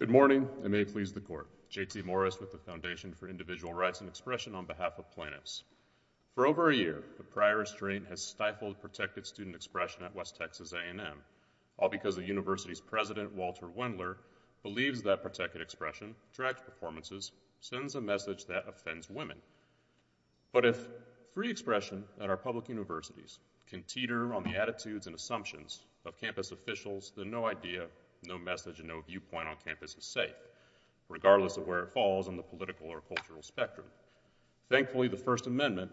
Good morning, and may it please the court. J.T. Morris with the Foundation for Individual Rights and Expression on behalf of plaintiffs. For over a year, the prior restraint has stifled protected student expression at West Texas A&M, all because the university's president, Walter Wendler, believes that protected expression, tracked performances, sends a message that no idea, no message, and no viewpoint on campus is safe, regardless of where it falls on the political or cultural spectrum. Thankfully, the First Amendment,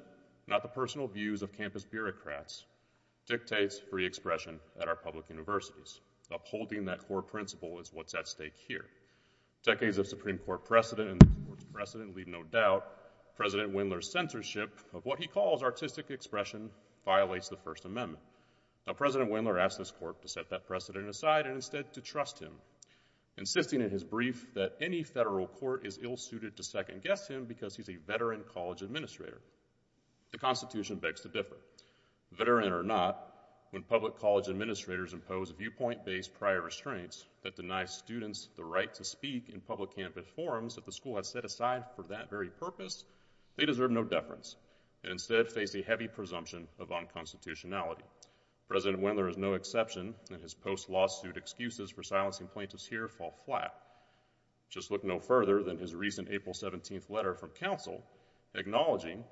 not the personal views of campus bureaucrats, dictates free expression at our public universities. Upholding that core principle is what's at stake here. Decades of Supreme Court precedent and precedent lead no doubt President Wendler's censorship of what he calls artistic expression violates the First Amendment. Now, President Wendler asked this court to set that precedent aside and instead to trust him, insisting in his brief that any federal court is ill-suited to second-guess him because he's a veteran college administrator. The Constitution begs to differ. Veteran or not, when public college administrators impose viewpoint-based prior restraints that deny students the right to speak in public campus forums that the school has set aside for that very purpose, they deserve no deference and instead face a heavy presumption of unconstitutionality. President Wendler is no exception, and his post-lawsuit excuses for silencing plaintiffs here fall flat. Just look no further than his recent April 17th letter from counsel acknowledging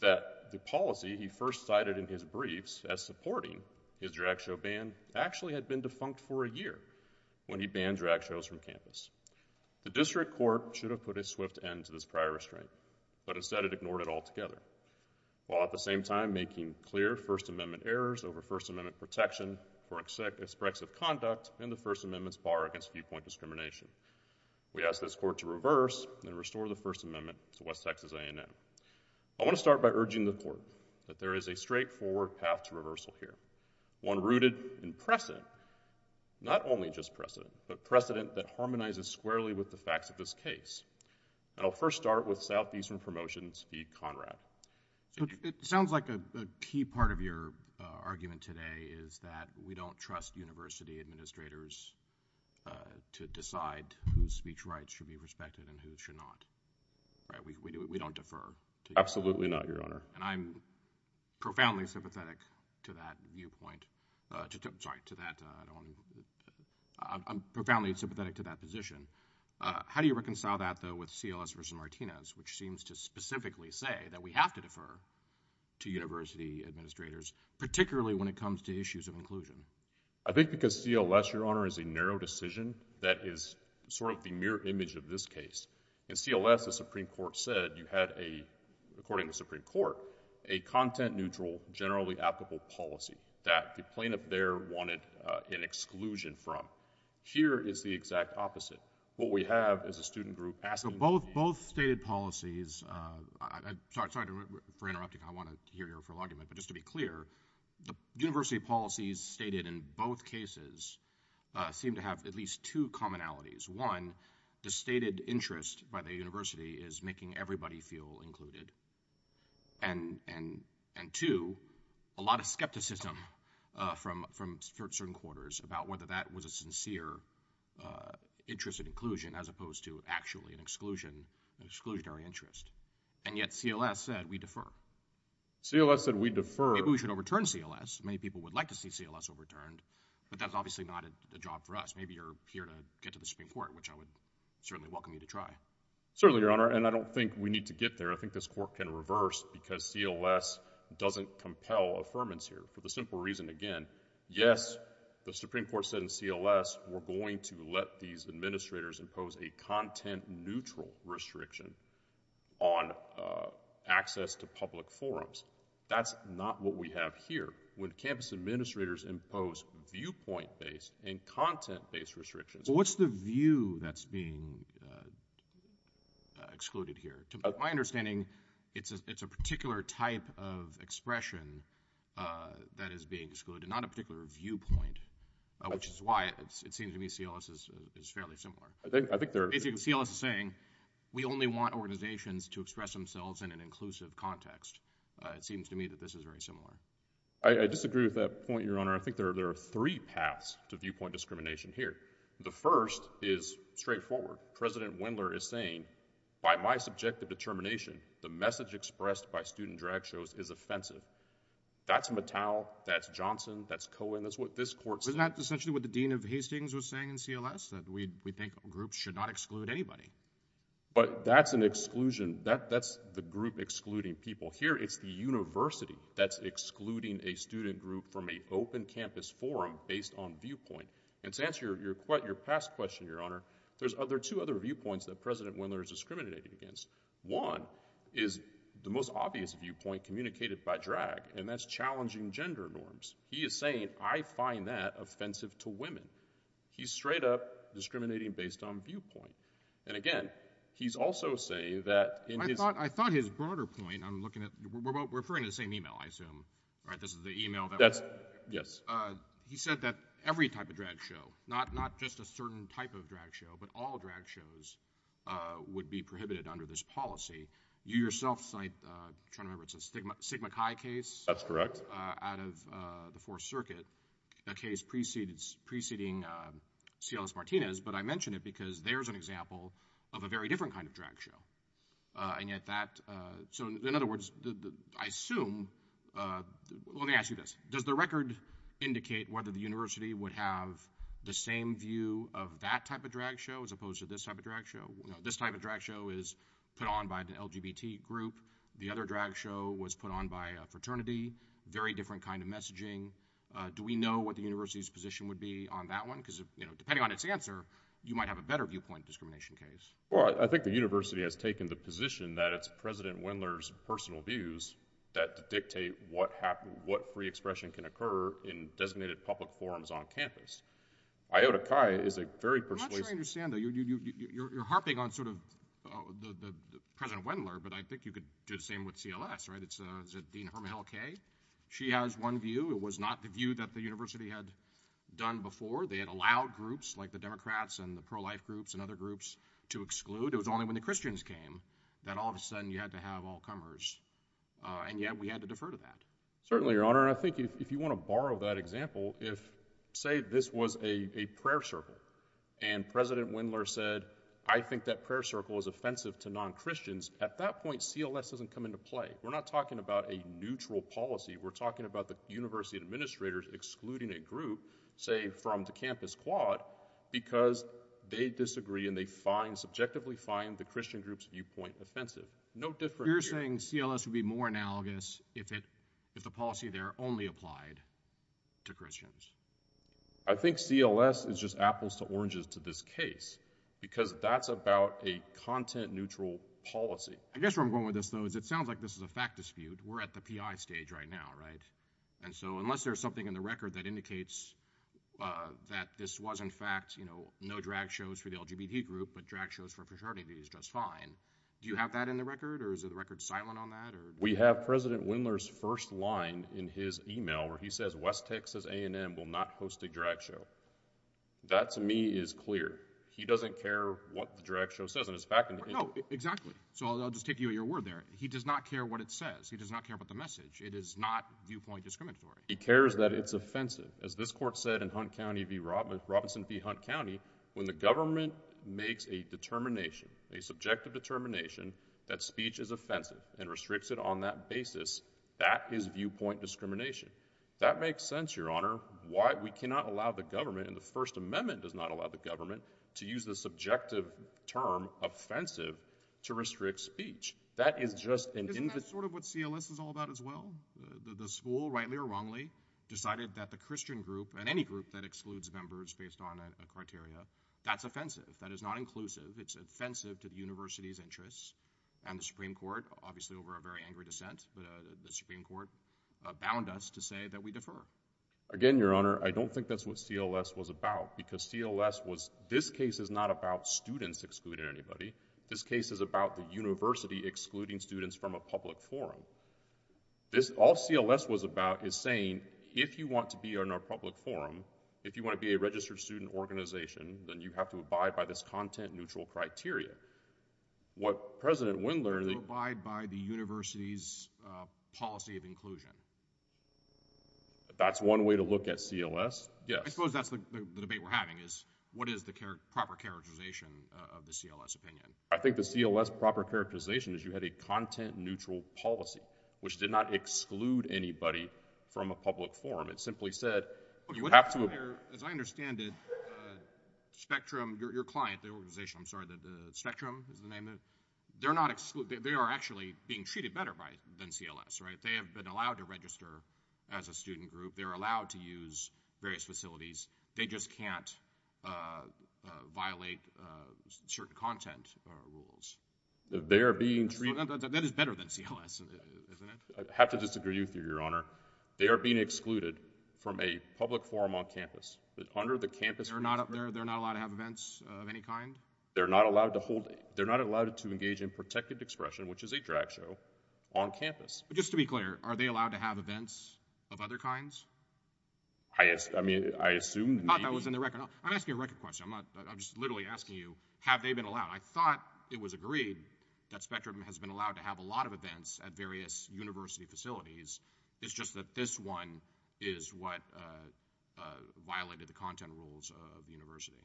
that the policy he first cited in his briefs as supporting his drag show ban actually had been defunct for a year when he banned drag shows from campus. The district court should have put a swift end to this prior restraint, but instead it ignored it altogether, while at the same time making clear First Amendment errors over First Amendment protection for expressive conduct in the First Amendment's bar against viewpoint discrimination. We ask this court to reverse and restore the First Amendment to West Texas A&M. I want to start by urging the court that there is a straightforward path to reversal here, one rooted in precedent, not only just precedent, but precedent that these promotions be CONRAD. It sounds like a key part of your argument today is that we don't trust university administrators to decide whose speech rights should be respected and whose should not, right? We don't defer. Absolutely not, Your Honor. And I'm profoundly sympathetic to that viewpoint, sorry, to that, I'm profoundly sympathetic to that position. How do you reconcile that, though, with CLS v. Martinez, which seems to specifically say that we have to defer to university administrators, particularly when it comes to issues of inclusion? I think because CLS, Your Honor, is a narrow decision that is sort of the mirror image of this case. In CLS, the Supreme Court said you had a, according to the Supreme Court, a content-neutral, generally applicable policy that the plaintiff there wanted an exclusion from. Here is the exact opposite. What we have is a student group asking the— Both stated policies, sorry for interrupting, I want to hear your argument, but just to be clear, the university policies stated in both cases seem to have at least two commonalities. One, the stated interest by the university is making everybody feel included. And two, a lot of skepticism from certain quarters about whether that was a sincere interest in inclusion as opposed to actually an exclusion, an exclusionary interest. And yet CLS said we defer. CLS said we defer. Maybe we should overturn CLS. Many people would like to see CLS overturned, but that's obviously not a job for us. Maybe you're here to get to the Supreme Court, which I would certainly welcome you to try. Certainly, Your Honor, and I don't think we need to get there. I think this Court can compel affirmance here for the simple reason, again, yes, the Supreme Court said in CLS we're going to let these administrators impose a content-neutral restriction on access to public forums. That's not what we have here. When campus administrators impose viewpoint-based and content-based restrictions— But what's the view that's being excluded here? To my understanding, it's a particular type of expression that is being excluded, not a particular viewpoint, which is why it seems to me CLS is fairly similar. I think they're— CLS is saying we only want organizations to express themselves in an inclusive context. It seems to me that this is very similar. I disagree with that point, Your Honor. I think there are three paths to viewpoint discrimination here. The first is straightforward. President Wendler is saying by my subjective determination, the message expressed by student drag shows is offensive. That's Mattel. That's Johnson. That's Cohen. That's what this Court says. Isn't that essentially what the Dean of Hastings was saying in CLS, that we think groups should not exclude anybody? But that's an exclusion. That's the group excluding people. Here, it's the university that's excluding a student group from a open campus forum based on viewpoint. And to answer your past question, Your Honor, there are two other viewpoints that President Wendler is discriminating against. One is the most obvious viewpoint communicated by drag, and that's challenging gender norms. He is saying, I find that offensive to women. He's straight up discriminating based on viewpoint. And again, he's also saying that in his— I thought his broader point—I'm looking at—we're referring to the same email, I assume, right? This is the email that— That's—yes. He said that every type of drag show, not just a certain type of drag show, but all would be prohibited under this policy. You yourself cite—I'm trying to remember, it's a Sigma Chi case— That's correct. —out of the Fourth Circuit, a case preceding CLS Martinez. But I mention it because there's an example of a very different kind of drag show. And yet that—so in other words, I assume—let me ask you this. Does the record indicate whether the university would have the same view of that type of drag show as opposed to this type of drag show? You know, this type of drag show is put on by an LGBT group. The other drag show was put on by a fraternity. Very different kind of messaging. Do we know what the university's position would be on that one? Because, you know, depending on its answer, you might have a better viewpoint discrimination case. Well, I think the university has taken the position that it's President Wendler's personal views that dictate what free expression can occur in designated public forums on campus. Iota Chi is a very persuasive— —President Wendler, but I think you could do the same with CLS, right? It's Dean Herma Hill Kay. She has one view. It was not the view that the university had done before. They had allowed groups like the Democrats and the pro-life groups and other groups to exclude. It was only when the Christians came that all of a sudden you had to have all comers. And yet we had to defer to that. Certainly, Your Honor. I think if you want to borrow that example, if, say, this was a prayer circle and President Wendler said, I think that prayer circle is offensive to non-Christians, at that point CLS doesn't come into play. We're not talking about a neutral policy. We're talking about the university administrators excluding a group, say, from the campus quad because they disagree and they find, subjectively find, the Christian group's viewpoint offensive. No different here. You're saying CLS would be more analogous if the policy there only applied to Christians? I think CLS is just apples to oranges to this case because that's about a content-neutral policy. I guess where I'm going with this, though, is it sounds like this is a fact dispute. We're at the PI stage right now, right? And so unless there's something in the record that indicates that this was, in fact, you know, no drag shows for the LGBT group but drag shows for fraternity is just fine, do you have that in the record or is the record silent on that? We have President Windler's first line in his email where he says, West Texas A&M will not host a drag show. That, to me, is clear. He doesn't care what the drag show says. No, exactly. So I'll just take you at your word there. He does not care what it says. He does not care about the message. It is not viewpoint discriminatory. He cares that it's offensive. As this court said in Hunt County v. Robinson v. Hunt County, when the government makes a determination, a subjective determination, that speech is restricted on that basis. That is viewpoint discrimination. That makes sense, Your Honor, why we cannot allow the government, and the First Amendment does not allow the government to use the subjective term offensive to restrict speech. That is just an invis— Isn't that sort of what CLS is all about as well? The school, rightly or wrongly, decided that the Christian group and any group that excludes members based on a criteria, that's offensive. That is not inclusive. It's offensive to the university's interests and the Supreme Court. Again, Your Honor, I don't think that's what CLS was about because CLS was, this case is not about students excluding anybody. This case is about the university excluding students from a public forum. This, all CLS was about is saying, if you want to be on a public forum, if you want to be a registered student organization, then you have to abide by this content-neutral criteria. What President Windler— You abide by the university's policy of inclusion. That's one way to look at CLS, yes. I suppose that's the debate we're having is, what is the proper characterization of the CLS opinion? I think the CLS proper characterization is you had a content-neutral policy, which did not exclude anybody from a public forum. It simply said, you have to— Your Honor, as I understand it, Spectrum, your client, the organization, I'm sorry, Spectrum is the name of it, they're not excluded, they are actually being treated better by, than CLS, right? They have been allowed to register as a student group. They're allowed to use various facilities. They just can't violate certain content rules. They're being treated— That is better than CLS, isn't it? I have to disagree with you, Your Honor. They are being excluded from a public forum on campus. Under the campus— They're not allowed to have events of any kind? They're not allowed to hold—they're not allowed to engage in protected expression, which is a drag show, on campus. Just to be clear, are they allowed to have events of other kinds? I mean, I assume— I thought that was in the record. I'm asking you a record question. I'm just literally asking you, have they been allowed? I thought it was agreed that Spectrum has been allowed to have a lot of events at various university facilities. It's just that this one is what violated the content rules of the university.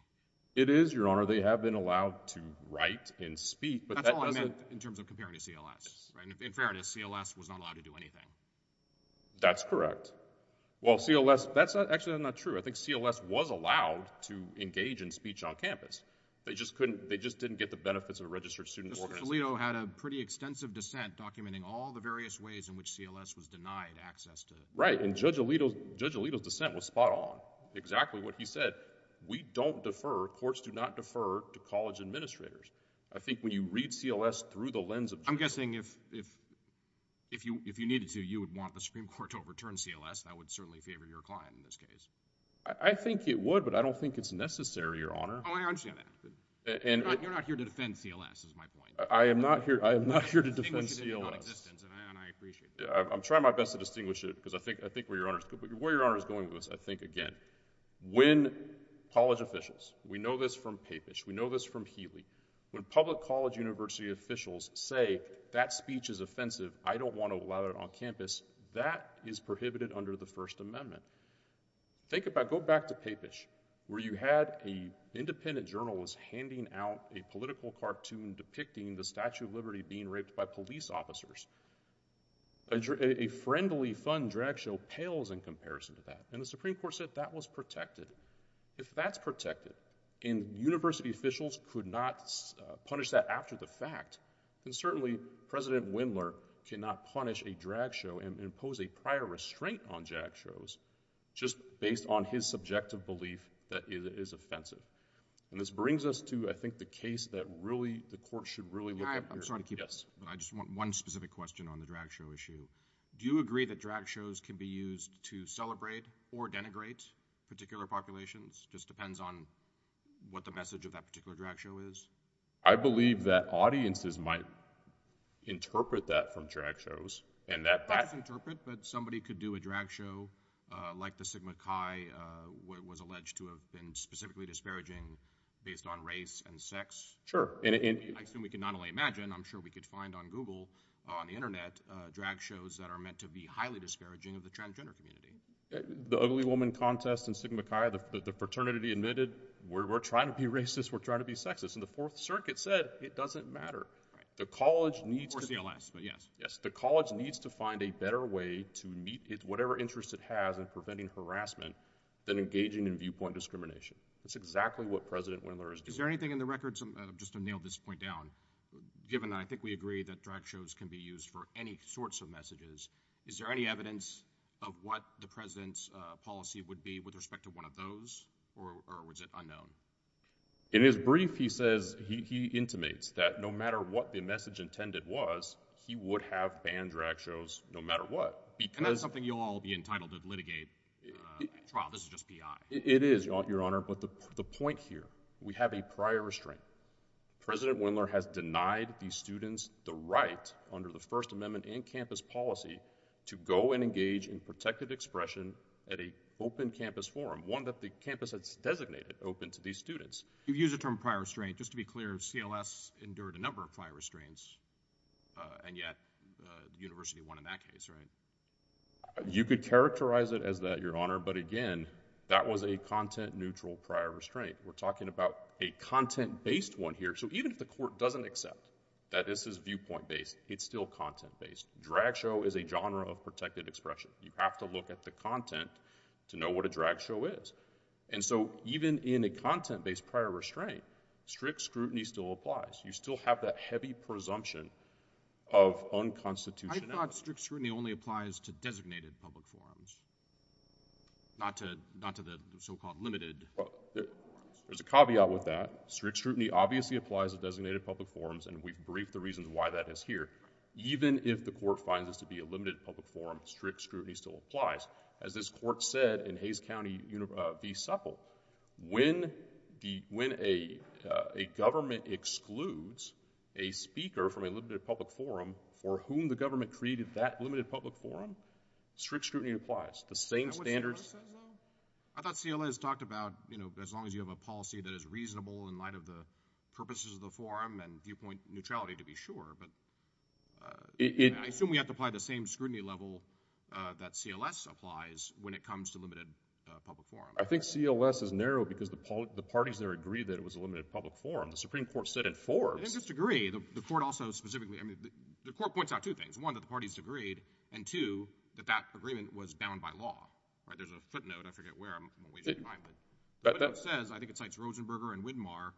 It is, Your Honor. They have been allowed to write and speak, but that doesn't— That's all I meant in terms of comparing to CLS. In fairness, CLS was not allowed to do anything. That's correct. Well, CLS—that's actually not true. I think CLS was allowed to engage in speech on campus. They just couldn't—they just didn't get the benefits of a registered student organization. Judge Alito had a pretty extensive dissent documenting all the various ways in which CLS was denied access to— Right, and Judge Alito's dissent was spot on. Exactly what he said. We don't defer, courts do not defer to college administrators. I think when you read CLS through the lens of— I'm guessing if you needed to, you would want the Supreme Court to overturn CLS. That would certainly favor your client in this case. I think it would, but I don't think it's necessary, Your Honor. Oh, I understand that. You're not here to defend CLS, is my point. I am not here to defend CLS. I'm trying my best to distinguish it, because I think where Your Honor is going with this, I think, again, when college officials—we know this from Papish, we know this from Healy—when public college university officials say, that speech is offensive, I don't want to allow it on campus, that is prohibited under the First Amendment. Think about—go back to Papish, where you had an independent journalist handing out a political cartoon depicting the Statue of Liberty being raped by police officers. A friendly, fun drag show pales in comparison to that, and the Supreme Court said that was protected. If that's protected, and university officials could not punish that after the fact, then certainly President Wendler cannot punish a drag show and impose a prior restraint on drag shows just based on his subjective belief that it is offensive. And this brings us to, I think, the case that really, the court should really look at— I'm sorry. Yes. I just want one specific question on the drag show issue. Do you agree that drag shows can be used to celebrate or denigrate particular populations? Just depends on what the message of that particular drag show is? I believe that audiences might interpret that from drag shows, and that— I think that's interpreted, but somebody could do a drag show like the Sigma Chi was alleged to have been specifically disparaging based on race and sex. Sure, and— I assume we can not only imagine, I'm sure we could find on Google, on the Internet, drag shows that are meant to be highly disparaging of the transgender community. The Ugly Woman Contest and Sigma Chi, the fraternity admitted, we're trying to be racist, we're trying to be sexist, and the Fourth Circuit said it doesn't matter. Right. The college needs to— Or CLS, but yes. Yes. The college needs to find a better way to meet whatever interest it has in preventing harassment than engaging in viewpoint discrimination. That's exactly what President Wendler is doing. Is there anything in the records, just to nail this point down, given that I think we agree that drag shows can be used for any sorts of messages, is there any evidence of what the president's policy would be with respect to one of those, or was it unknown? In his brief, he says, he intimates that no matter what the message intended was, he would have banned drag shows no matter what, because— And that's something you'll all be entitled to litigate at trial. This is just PI. It is, Your Honor, but the point here, we have a prior restraint. President Wendler has denied these students the right, under the First Amendment and campus policy, to go and engage in protected expression at an open campus forum, one that the campus has designated open to these students. You've used the term prior restraint. Just to be clear, CLS endured a number of prior restraints, and yet the university won in that case, right? You could characterize it as that, Your Honor, but again, that was a content-neutral prior restraint. We're talking about a content-based one here, so even if the court doesn't accept that this is viewpoint-based, it's still content-based. Drag show is a genre of protected expression. You have to look at the content to know what a drag show is. Even in a content-based prior restraint, strict scrutiny still applies. You still have that heavy presumption of unconstitutionality. I thought strict scrutiny only applies to designated public forums, not to the so-called limited public forums. There's a caveat with that. Strict scrutiny obviously applies to designated public forums, and we've briefed the reasons why that is here. Even if the court finds this to be a limited public forum, strict scrutiny still applies. As this court said in Hayes County v. Supple, when a government excludes a speaker from a limited public forum for whom the government created that limited public forum, strict scrutiny applies. The same standards... Is that what CLS says, though? I thought CLS talked about, you know, as long as you have a policy that is reasonable in light of the purposes of the forum and viewpoint neutrality, to be sure, but... I assume we have to apply the same scrutiny level that CLS applies when it comes to limited public forums. I think CLS is narrow because the parties there agree that it was a limited public forum. The Supreme Court said in Forbes... They just agree. The court also specifically... I mean, the court points out two things. One, that the parties agreed, and two, that that agreement was bound by law. There's a footnote. I forget where. I'm wasting time. But it says, I think it cites Rosenberger and Widmar,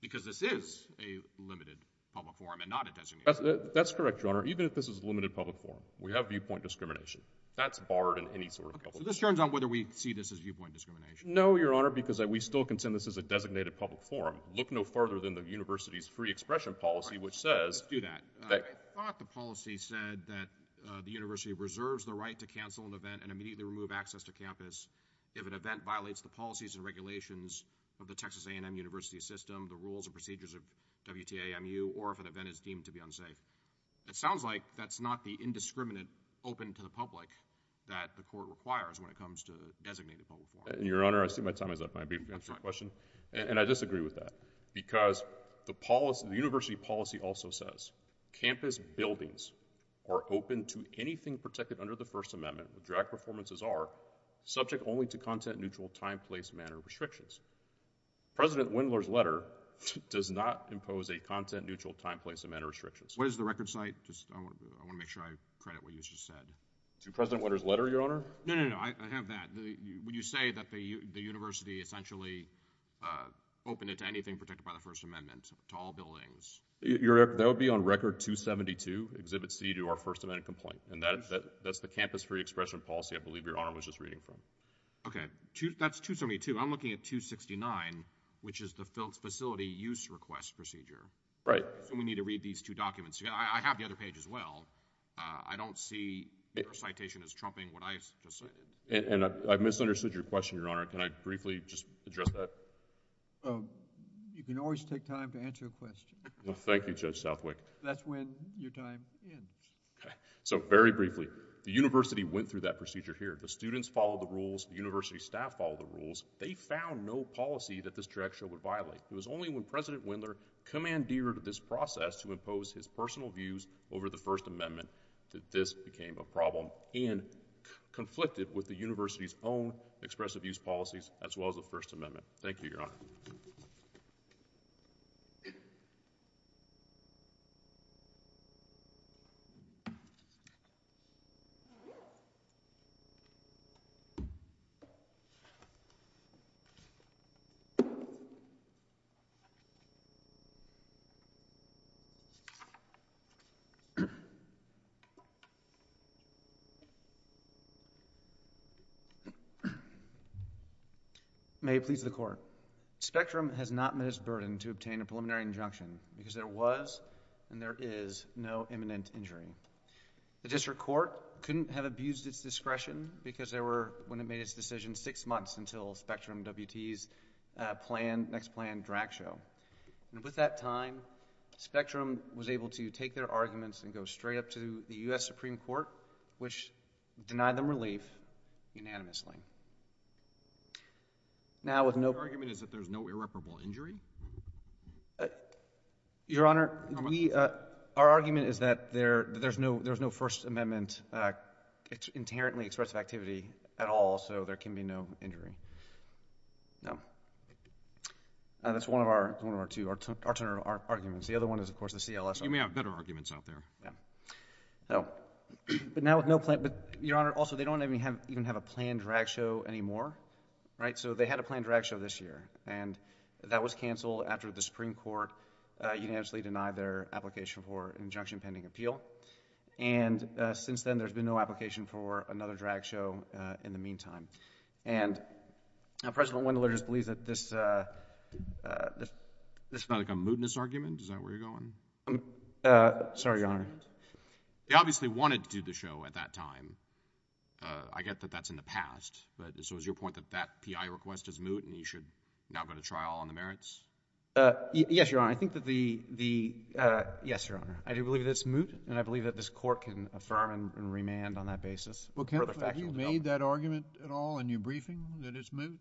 because this is a limited public forum and not a designated. That's correct, Your Honor. Even if this is a limited public forum, we have viewpoint discrimination. That's barred in any sort of public forum. So this turns on whether we see this as viewpoint discrimination. No, Your Honor, because we still contend this is a designated public forum. Look no further than the university's free expression policy, which says... Let's do that. I thought the policy said that the university reserves the right to cancel an event and immediately remove access to campus if an event violates the policies and regulations of the Texas A&M University system, the rules and procedures of WTAMU, or if an event is deemed to be unsafe. It sounds like that's not the indiscriminate open to the public that the court requires when it comes to designated public forums. Your Honor, I see my time is up. May I be able to answer your question? That's fine. And I disagree with that, because the policy... the university policy also says, campus buildings are open to anything protected under the First Amendment where drag performances are, subject only to content-neutral time, place, manner restrictions. President Wendler's letter does not impose a content-neutral time, place, and manner restrictions. What is the record site? I want to make sure I credit what you just said. Is it President Wendler's letter, Your Honor? No, no, no. I have that. When you say that the university essentially opened it to anything protected by the First Amendment, to all buildings... That would be on Record 272, Exhibit C, to our First Amendment complaint. And that's the campus free expression policy I believe Your Honor was just reading from. Okay. That's 272. I'm looking at 269, which is the facility use request procedure. Right. So, we need to read these two documents. I have the other page as well. I don't see your citation as trumping what I just cited. And I misunderstood your question, Your Honor. Can I briefly just address that? You can always take time to answer a question. Thank you, Judge Southwick. That's when your time ends. Okay. So, very briefly. The university went through that procedure here. The students followed the rules. The university staff followed the rules. They found no policy that this direction would violate. It was only when President Wendler commandeered this process to impose his personal views over the First Amendment that this became a problem and conflicted with the university's own expressive use policies as well as the First Amendment. Thank you, Your Honor. May it please the Court. Spectrum has not met its burden to obtain a preliminary injunction because there was and there is no imminent injury. The district court couldn't have abused its discretion because there were, when it came to Spectrum, WT's plan, next plan, drag show. And with that time, Spectrum was able to take their arguments and go straight up to the U.S. Supreme Court, which denied them relief unanimously. Now, with no— Your argument is that there's no irreparable injury? Your Honor, our argument is that there's no First Amendment inherently expressive activity at all, so there can be no injury. No. That's one of our two, our two arguments. The other one is, of course, the CLS argument. You may have better arguments out there. Yeah. No. But now with no— But, Your Honor, also, they don't even have a planned drag show anymore, right? So they had a planned drag show this year. And that was canceled after the Supreme Court unanimously denied their application for an injunction pending appeal. And since then, there's been no application for another drag show in the meantime. And President Wendler just believes that this— This is not like a mootness argument? Is that where you're going? Sorry, Your Honor. He obviously wanted to do the show at that time. I get that that's in the past, but so is your point that that P.I. request is moot and he should now go to trial on the merits? Yes, Your Honor. I think that the— Yes, Your Honor. I do believe that it's moot and I believe that this Court can affirm and remand on that basis for the factual— Well, Ken, have you made that argument at all in your briefing that it's moot?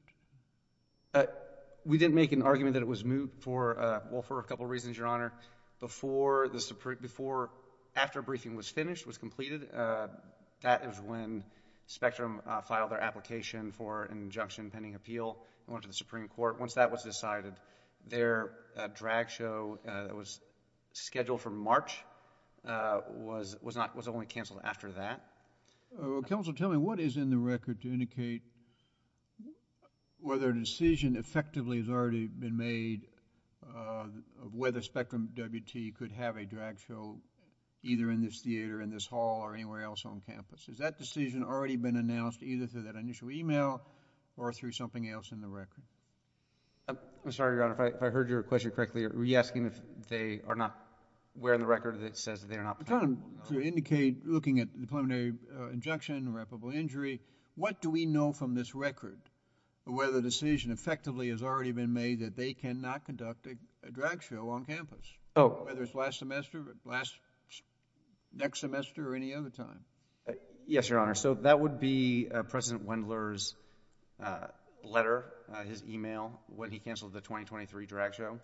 We didn't make an argument that it was moot for—well, for a couple of reasons, Your Honor. Before the—before—after a briefing was finished, was completed, that is when Spectrum filed their application for an injunction pending appeal and went to the Supreme Court. Once that was decided, their drag show that was scheduled for March was not—was only canceled after that. Counsel, tell me what is in the record to indicate whether a decision effectively has already been made of whether Spectrum WT could have a drag show either in this theater, in this hall, or anywhere else on campus? Has that decision already been announced either through that initial email or through something else in the record? I'm sorry, Your Honor. If I heard your question correctly, are you asking if they are not aware in the record that it says that they are not— I'm trying to indicate, looking at the preliminary injunction, irreparable injury, what do we know from this record of whether the decision effectively has already been made that they cannot conduct a drag show on campus, whether it's last semester, next semester, or any other time? Yes, Your Honor. So, that would be President Wendler's letter, his email, when he canceled the 2023 drag show,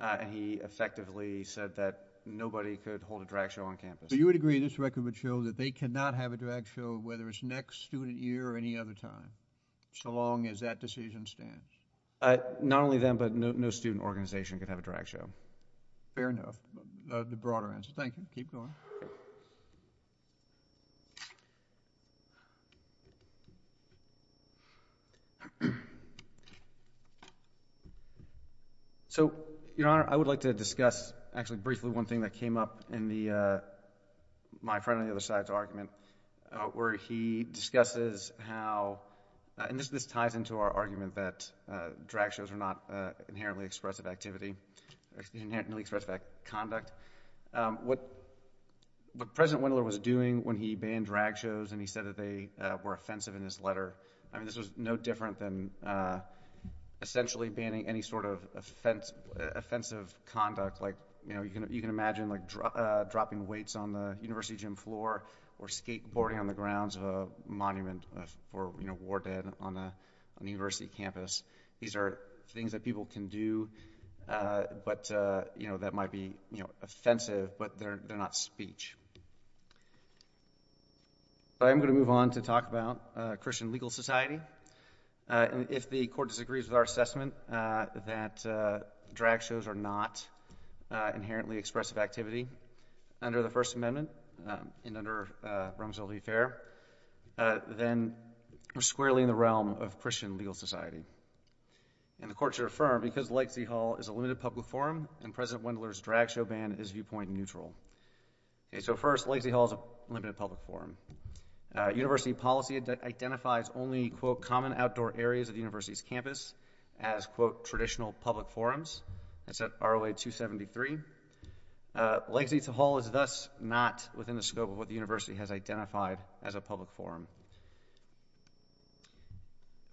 and he effectively said that nobody could hold a drag show on campus. So, you would agree this record would show that they cannot have a drag show whether it's next student year or any other time, so long as that decision stands? Not only them, but no student organization could have a drag show. Fair enough. The broader answer. Thank you. Keep going. So, Your Honor, I would like to discuss, actually briefly, one thing that came up in my friend on the other side's argument, where he discusses how—and this ties into our argument that drag shows are not inherently expressive activity—inherently expressive conduct. What President Wendler was doing when he banned drag shows and he said that they were offensive in his letter, I mean, this was no different than essentially banning any sort of offensive conduct. Like, you know, you can imagine, like, dropping weights on the university gym floor or skateboarding on the grounds of a monument for, you know, war dead on a university campus. These are things that people can do, but, you know, that might be, you know, offensive, but they're not speech. I'm going to move on to talk about Christian legal society. If the Court disagrees with our assessment that drag shows are not inherently expressive activity under the First Amendment and under Rumsfeld v. Fair, then we're squarely in the realm of Christian legal society. And the Court should affirm, because Legzi Hall is a limited public forum and President Wendler's drag show ban is viewpoint neutral. So first, Legzi Hall is a limited public forum. University policy identifies only, quote, common outdoor areas of the university's campus as, quote, traditional public forums. That's at ROA 273. Legzi Hall is thus not within the scope of what the university has identified as a public forum.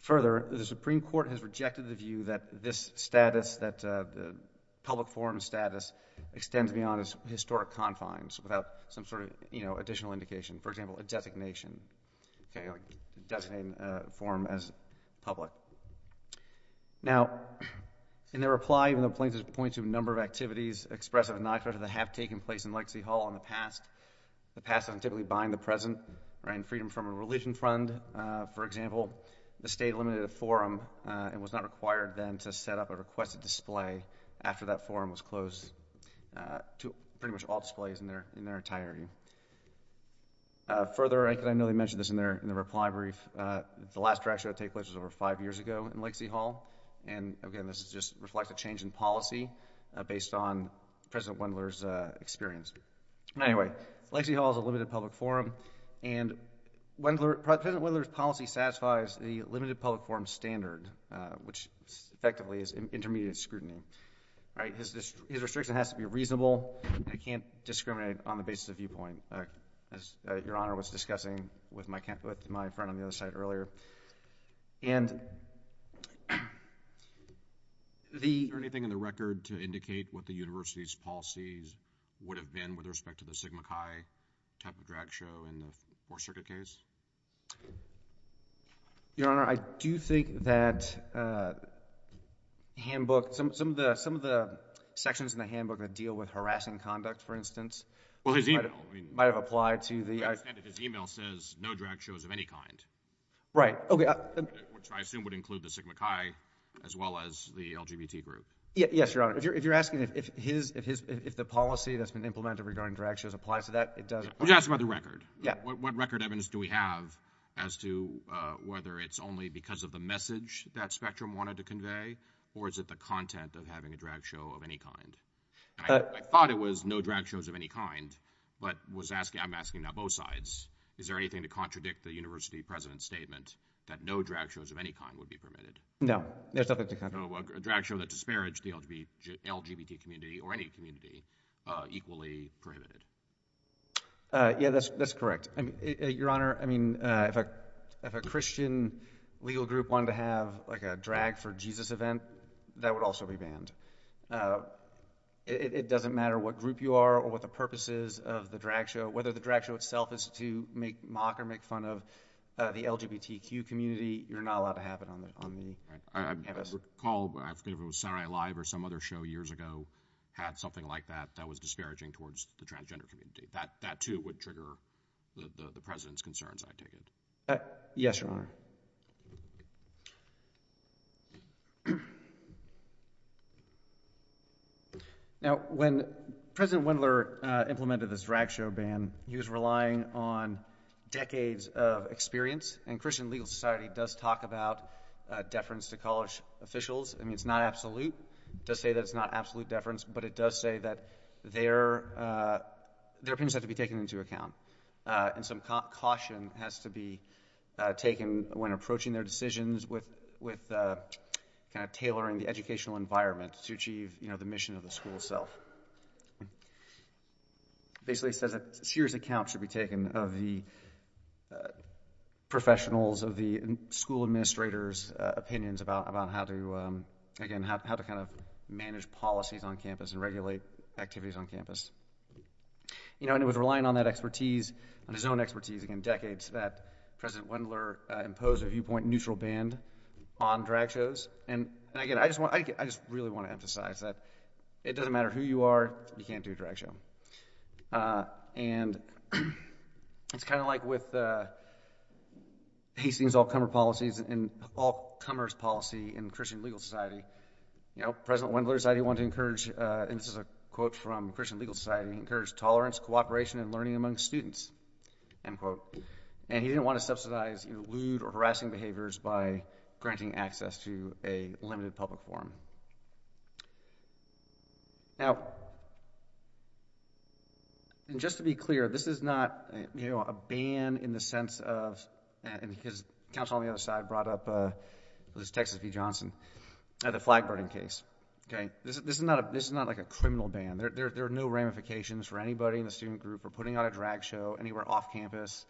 Further, the Supreme Court has rejected the view that this status, that the public forum status extends beyond its historic confines without some sort of, you know, additional indication, for example, a designation, okay, like designating a forum as public. Now, in their reply, even though it points to a number of activities expressive and non-expressive that have taken place in Legzi Hall in the past, the past doesn't typically bind the state limited forum and was not required then to set up a requested display after that forum was closed to pretty much all displays in their entirety. Further, I know they mentioned this in their reply brief, the last drag show to take place was over five years ago in Legzi Hall, and again, this just reflects a change in policy based on President Wendler's experience. Anyway, Legzi Hall is a limited public forum, and President Wendler's policy satisfies the limited public forum standard, which effectively is intermediate scrutiny, right? His restriction has to be reasonable. It can't discriminate on the basis of viewpoint, as Your Honor was discussing with my friend on the other side earlier. And the... Is there anything in the record to indicate what the university's policies would have been with respect to the Sigma Chi type of drag show in the Fourth Circuit case? Your Honor, I do think that handbook... some of the sections in the handbook that deal with harassing conduct, for instance... Well, his email...... might have applied to the... I understand that his email says no drag shows of any kind. Right. Okay. Which I assume would include the Sigma Chi as well as the LGBT group. Yes, Your Honor. If you're asking if his... if the policy that's been implemented regarding drag shows applies to that, it does... I'm just asking about the record. Yeah. What record evidence do we have as to whether it's only because of the message that Spectrum wanted to convey, or is it the content of having a drag show of any kind? I thought it was no drag shows of any kind, but was asking... I'm asking now both sides. Is there anything to contradict the university president's statement that no drag shows of any kind would be permitted? No. There's nothing to... So a drag show that disparaged the LGBT community, or any community, equally prohibited. Yeah, that's correct. Your Honor, I mean, if a Christian legal group wanted to have like a drag for Jesus event, that would also be banned. It doesn't matter what group you are or what the purpose is of the drag show. Whether the drag show itself is to mock or make fun of the LGBTQ community, you're not allowed to have it on the campus. Right. I recall, I forget if it was Saturday Night Live or some other show years ago had something like that that was disparaging towards the transgender community. That, too, would trigger the president's concerns, I take it. Yes, Your Honor. Now, when President Wendler implemented this drag show ban, he was relying on decades of deference to college officials. I mean, it's not absolute. It does say that it's not absolute deference, but it does say that their opinions have to be taken into account, and some caution has to be taken when approaching their decisions with kind of tailoring the educational environment to achieve the mission of the school itself. Basically, it says that serious account should be taken of the professionals, of the school administrators' opinions about how to, again, how to kind of manage policies on campus and regulate activities on campus. You know, and it was relying on that expertise, on his own expertise, again, decades, that President Wendler imposed a viewpoint neutral ban on drag shows. And, again, I just really want to emphasize that it doesn't matter who you are, you can't do a drag show. And it's kind of like with Hastings' all-comer policies and all-comers policy in Christian Legal Society. You know, President Wendler said he wanted to encourage, and this is a quote from Christian Legal Society, he encouraged tolerance, cooperation, and learning among students, end quote. And he didn't want to subsidize, you know, lewd or harassing behaviors by granting access to a limited public forum. Now, and just to be clear, this is not, you know, a ban in the sense of, and because counsel on the other side brought up, it was Texas v. Johnson, the flag burning case. Okay? This is not like a criminal ban. There are no ramifications for anybody in the student group for putting on a drag show anywhere off campus.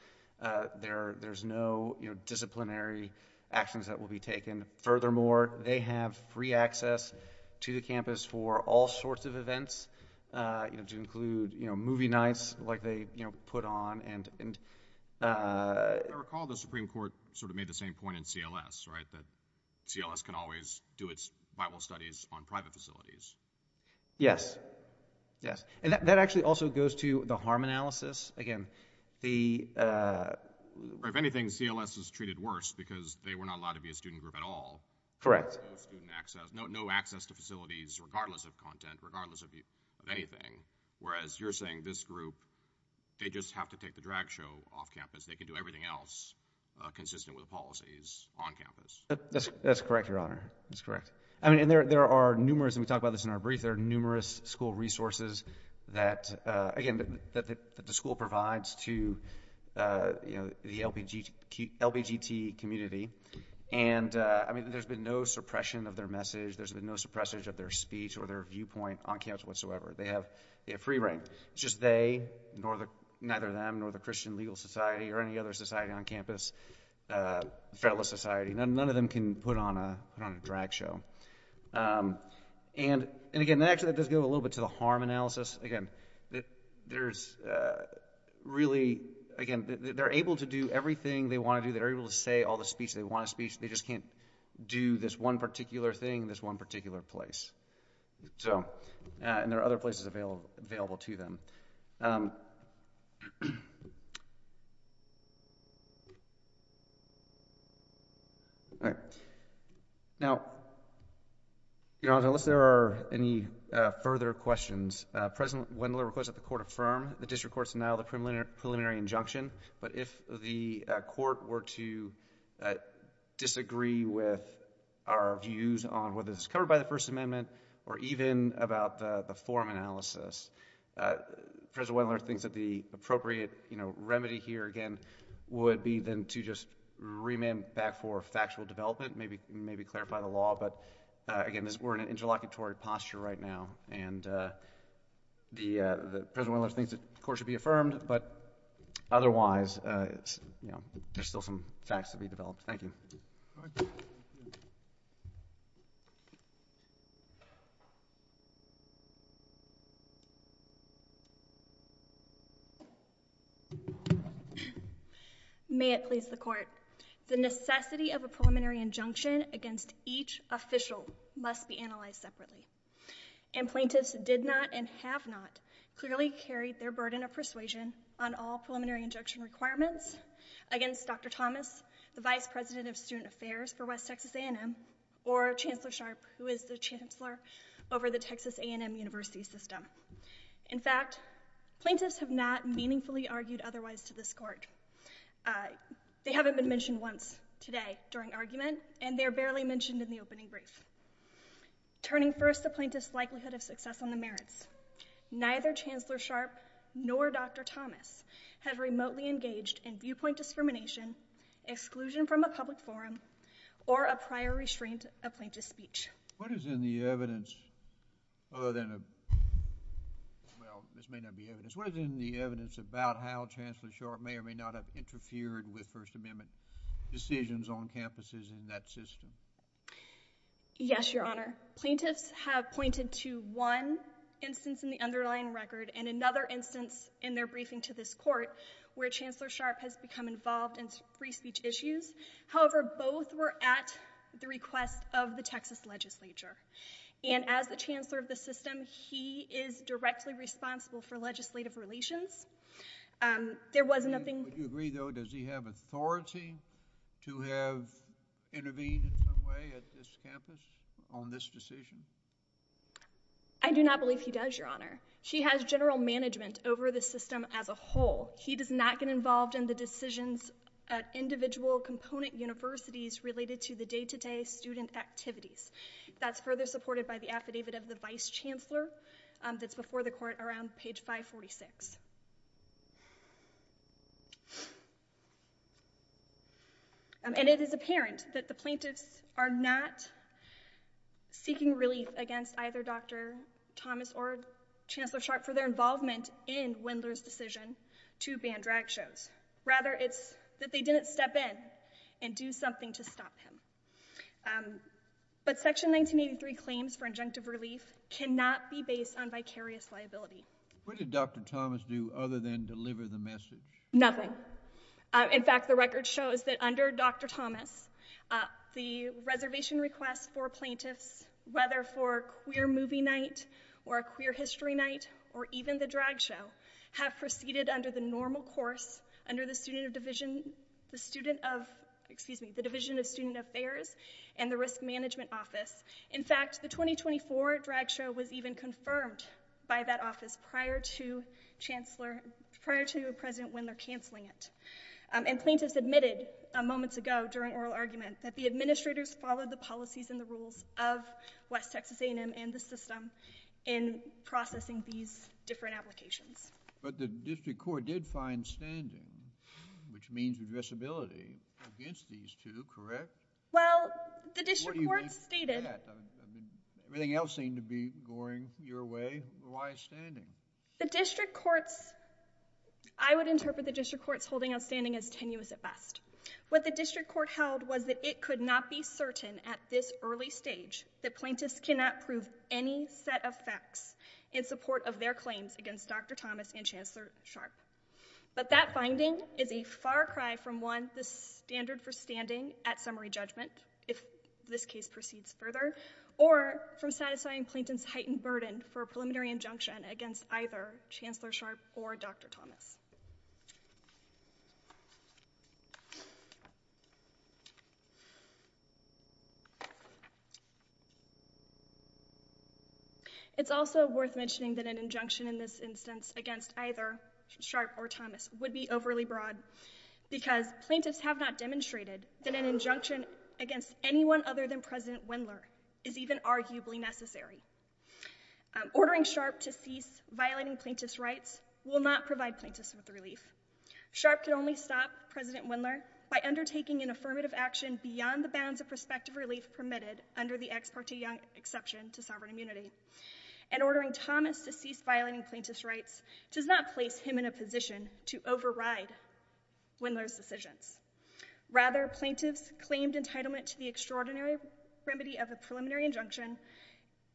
There's no, you know, disciplinary actions that will be taken. And furthermore, they have free access to the campus for all sorts of events, you know, to include, you know, movie nights like they, you know, put on and— I recall the Supreme Court sort of made the same point in CLS, right, that CLS can always do its Bible studies on private facilities. Yes. Yes. And that actually also goes to the harm analysis. Again, the— Correct. That's correct, Your Honor. That's correct. I mean, and there are numerous, and we talked about this in our brief, there are numerous school resources that, again, that the school provides to, you know, the LBGT community. And, I mean, there's been no suppression of their message, there's been no suppression of their speech or their viewpoint on campus whatsoever. They have free reign. It's just they, nor the—neither them, nor the Christian Legal Society or any other society on campus, Federalist Society, none of them can put on a drag show. And, again, that actually does go a little bit to the harm analysis. Again, there's really—again, they're able to do everything they want to do. They're able to say all the speech they want to speak. They just can't do this one particular thing in this one particular place. So, and there are other places available to them. All right. Now, Your Honor, unless there are any further questions, President Wendler requests that the Court affirm the District Court's denial of the preliminary injunction. But, if the Court were to disagree with our views on whether this is covered by the First Amendment or even about the form analysis, President Wendler thinks that the appropriate, you know, remedy here, again, would be then to just remand back for factual development, maybe clarify the law. But, again, we're in an interlocutory posture right now. And President Wendler thinks that the Court should be affirmed. But, otherwise, you know, there's still some facts to be developed. Thank you. All right. May it please the Court. The necessity of a preliminary injunction against each official must be analyzed separately. And plaintiffs did not and have not clearly carried their burden of persuasion on all preliminary injunction requirements against Dr. Thomas, the Vice President of Student Affairs for West Texas A&M, or Chancellor Sharp, who is the Chancellor over the Texas A&M University System. In fact, plaintiffs have not meaningfully argued otherwise to this Court. They haven't been mentioned once today during argument, and they're barely mentioned in the opening brief. Turning first to plaintiffs' likelihood of success on the merits, neither Chancellor Sharp nor Dr. Thomas have remotely engaged in viewpoint discrimination, exclusion from a public forum, or a prior restraint of plaintiff's speech. What is in the evidence other than a—well, this may not be evidence—what is in the evidence about how Chancellor Sharp may or may not have interfered with First Amendment decisions on campuses in that system? Yes, Your Honor. Plaintiffs have pointed to one instance in the underlying record and another instance in their briefing to this Court where Chancellor Sharp has become involved in free speech issues. However, both were at the request of the Texas legislature. And as the Chancellor of the system, he is directly responsible for legislative relations. There was nothing— I do not believe he does, Your Honor. She has general management over the system as a whole. He does not get involved in the decisions at individual component universities related to the day-to-day student activities. That's further supported by the affidavit of the vice chancellor that's before the Court around page 546. And it is apparent that the plaintiffs are not seeking relief against either Dr. Thomas or Chancellor Sharp for their involvement in Wendler's decision to ban drag shows. Rather, it's that they didn't step in and do something to stop him. But Section 1983 claims for injunctive relief cannot be based on vicarious liability. What did Dr. Thomas do other than deliver the message? Nothing. In fact, the record shows that under Dr. Thomas, the reservation requests for plaintiffs, whether for queer movie night or a queer history night or even the drag show, have proceeded under the normal course under the Division of Student Affairs and the Risk Management Office. In fact, the 2024 drag show was even confirmed by that office prior to Chancellor, prior to President Wendler canceling it. And plaintiffs admitted moments ago during oral argument that the administrators followed the policies and the rules of West Texas A&M and the system in processing these different applications. But the district court did find standing, which means regressibility, against these two, correct? Well, the district court stated... What do you mean by that? I mean, everything else seemed to be going your way. Why standing? The district court's... I would interpret the district court's holding on standing as tenuous at best. What the district court held was that it could not be certain at this early stage that plaintiffs cannot prove any set of facts in support of their claims against Dr. Thomas and Chancellor Sharp. But that finding is a far cry from, one, the standard for standing at summary judgment, if this case proceeds further, or from satisfying plaintiffs' heightened burden for a preliminary injunction against either Chancellor Sharp or Dr. Thomas. It's also worth mentioning that an injunction in this instance against either Sharp or Thomas would be overly broad, because plaintiffs have not demonstrated that an injunction against anyone other than President Wendler is even arguably necessary. Ordering Sharp to cease violating plaintiffs' rights will not provide plaintiffs with relief. Sharp can only stop President Wendler by undertaking an affirmative action beyond the bounds of prospective relief permitted under the ex parte exception to sovereign immunity. And ordering Thomas to cease violating plaintiffs' rights does not place him in a position to override Wendler's decisions. Rather, plaintiffs' claimed entitlement to the extraordinary remedy of a preliminary injunction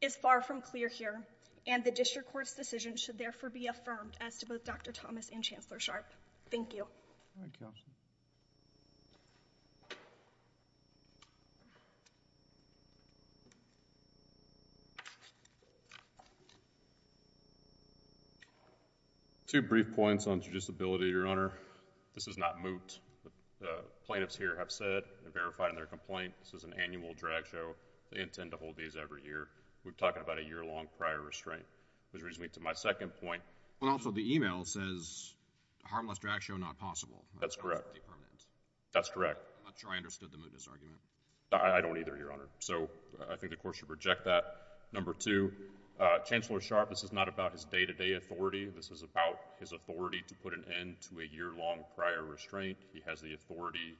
is far from clear here, and the district court's decision should therefore be affirmed as to both Dr. Thomas and Chancellor Sharp. Thank you. Two brief points on your disability, Your Honor. This is not moot. The plaintiffs here have said and verified in their complaint this is an annual drag show. They intend to hold these every year. We're talking about a year-long prior restraint. Which leads me to my second point. Well, also the email says harmless drag show not possible. That's correct. That's correct. I'm not sure I understood the mootness argument. I don't either, Your Honor. So, I think the court should reject that. Number two, Chancellor Sharp, this is not about his day-to-day authority. This is about his authority to put an end to a year-long prior restraint. He has the authority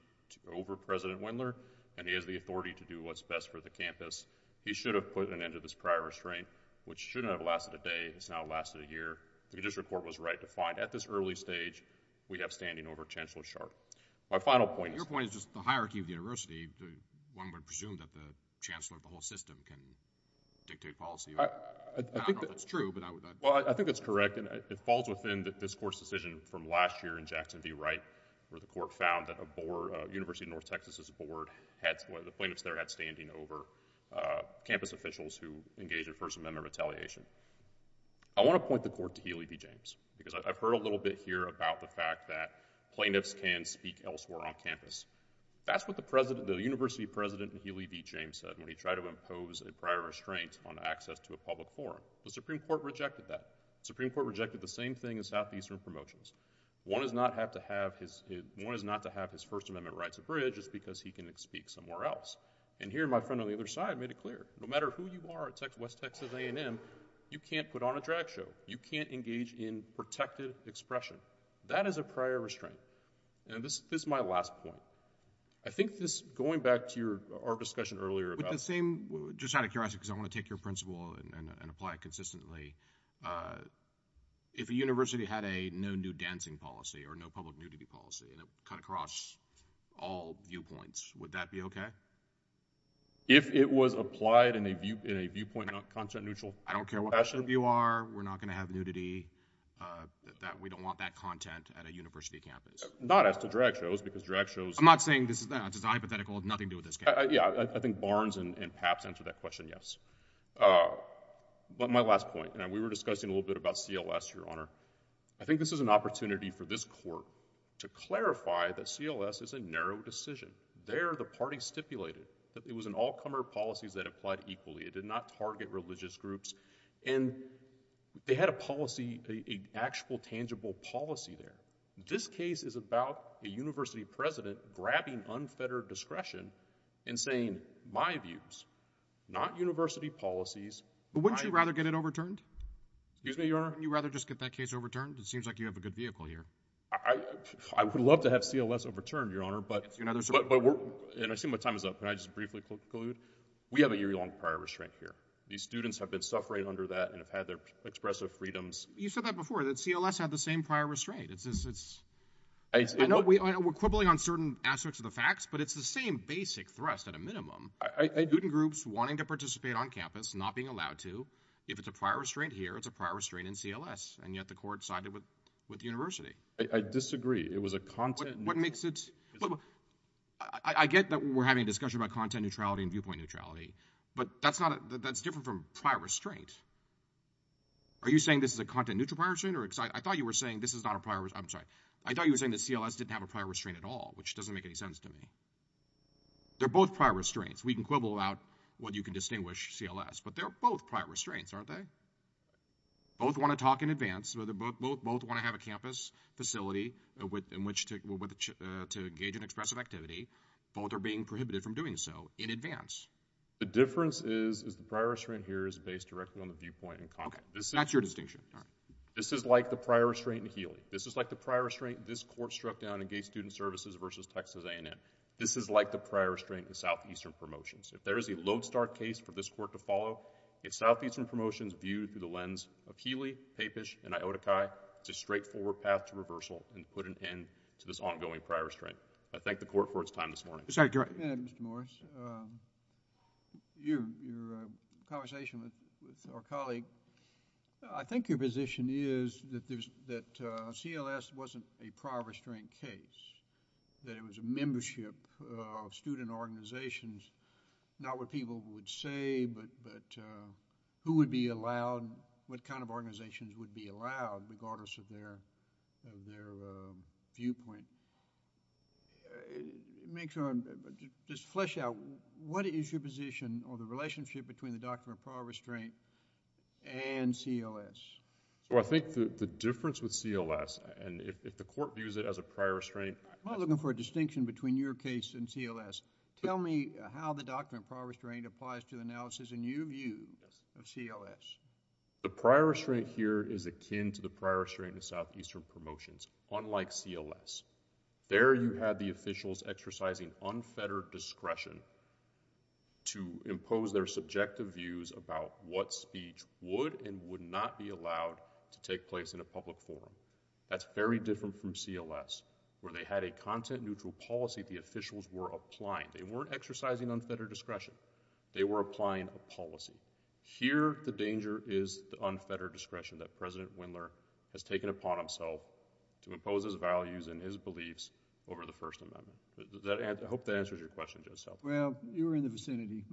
over President Wendler, and he has the authority to do what's best for the campus. He should have put an end to this prior restraint, which shouldn't have lasted a day. It's now lasted a year. The district court was right to find at this early stage we have standing over Chancellor Sharp. My final point is... Your point is just the hierarchy of the university. One would presume that the chancellor of the whole system can dictate policy. I don't know if that's true, but I would... Well, I think that's correct, and it falls within this court's decision from last year in Jackson v. Wright, where the court found that a board... University of North Texas' board had... the plaintiffs there had standing over campus officials who engaged in First Amendment retaliation. I want to point the court to Healy v. James, because I've heard a little bit here about the fact that plaintiffs can speak elsewhere on campus. That's what the university president in Healy v. James said when he tried to impose a prior restraint on access to a public forum. The Supreme Court rejected that. The Supreme Court rejected the same thing in southeastern promotions. One does not have to have his... one is not to have his First Amendment rights abridged just because he can speak somewhere else. And here, my friend on the other side made it clear. No matter who you are at West Texas A&M, you can't put on a drag show. You can't engage in protected expression. That is a prior restraint. And this is my last point. I think this... going back to your... our discussion earlier about... With the same... just out of curiosity, because I want to take your principle and or no public nudity policy, and it cut across all viewpoints. Would that be okay? If it was applied in a viewpoint... In a content-neutral fashion. I don't care what your view are. We're not going to have nudity. We don't want that content at a university campus. Not as to drag shows, because drag shows... I'm not saying this is... it's not hypothetical. It has nothing to do with this case. Yeah, I think Barnes and Papps answered that question, yes. But my last point, and we were discussing a little bit about CLS, Your Honor. I think this is an opportunity for this court to clarify that CLS is a narrow decision. There, the party stipulated that it was an all-comer policy that applied equally. It did not target religious groups. And they had a policy... an actual, tangible policy there. This case is about a university president grabbing unfettered discretion and saying, my views, not university policies... But wouldn't you rather get it overturned? Excuse me, Your Honor? Wouldn't you rather just get that case overturned? It seems like you have a good vehicle here. I would love to have CLS overturned, Your Honor, but... But we're... and I see my time is up. Can I just briefly collude? We have a year-long prior restraint here. These students have been suffering under that and have had their expressive freedoms... You said that before, that CLS had the same prior restraint. It's... I know we're quibbling on certain aspects of the facts, but it's the same basic thrust at a minimum. I... Student groups wanting to participate on campus, not being allowed to. If it's a prior restraint here, it's a prior restraint in CLS. And yet, the court sided with the university. I disagree. It was a content... What makes it... I get that we're having a discussion about content neutrality and viewpoint neutrality, but that's not... that's different from prior restraint. Are you saying this is a content neutral prior restraint or... I thought you were saying this is not a prior... I'm sorry. I thought you were saying that CLS didn't have a prior restraint at all, which doesn't make any sense to me. They're both prior restraints. We can quibble about whether you can distinguish CLS, but they're both prior restraints, aren't they? Both want to talk in advance. Both want to have a campus facility in which to engage in expressive activity. Both are being prohibited from doing so in advance. The difference is the prior restraint here is based directly on the viewpoint and content. Okay. That's your distinction. All right. This is like the prior restraint in Healy. This is like the prior restraint this court struck down in Gay Student Services versus Texas A&M. This is like the prior restraint in Southeastern Promotions. If there is a lodestar case for this court to follow, if Southeastern Promotions viewed through the lens of Healy, Papish, and Iota Chi, it's a straightforward path to reversal and put an end to this ongoing prior restraint. I thank the court for its time this morning. Mr. Director. Mr. Morris, your conversation with our colleague, I think your position is that CLS wasn't a prior restraint case, that it was a membership of student organizations, not what people would say but who would be allowed, what kind of organizations would be allowed regardless of their viewpoint. Just flesh out, what is your position on the relationship between the doctrine of prior restraint and CLS? Well, I think the difference with CLS and if the court views it as a prior restraint... I'm not looking for a distinction between your case and CLS. Tell me how the doctrine of prior restraint applies to the analysis in your view of CLS. The prior restraint here is akin to the prior restraint in Southeastern Promotions, unlike CLS. There you had the officials exercising unfettered discretion to impose their subjective views about what speech would and would not be allowed to take place in a public forum. That's very different from CLS where they had a content neutral policy the officials were applying. They weren't exercising unfettered discretion. They were applying a policy. Here, the danger is the unfettered discretion that President Wendler has taken upon himself to impose his values and his beliefs over the First Amendment. I hope that answers your question, Judge Self. Well, you were in the vicinity.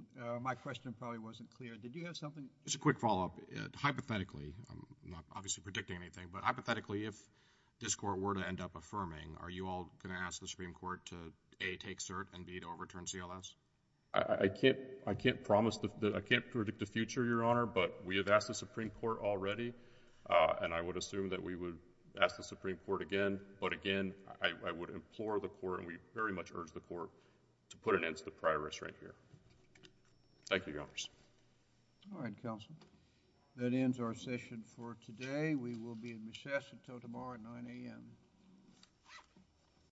My question probably wasn't clear. Did you have something... Just a quick follow-up. Hypothetically, I'm not obviously predicting anything, but hypothetically, if this Court were to end up affirming, are you all going to ask the Supreme Court to, A, take cert, and B, to overturn CLS? I can't promise... I can't predict the future, Your Honor, but we have asked the Supreme Court already, and I would assume that we would ask the Supreme Court again, but again, I would implore the Court, and we very much urge the Court, to put an end to the prior restraint here. Thank you, Your Honors. All right, Counsel. That ends our session for today. We will be in recess until tomorrow at 9 a.m.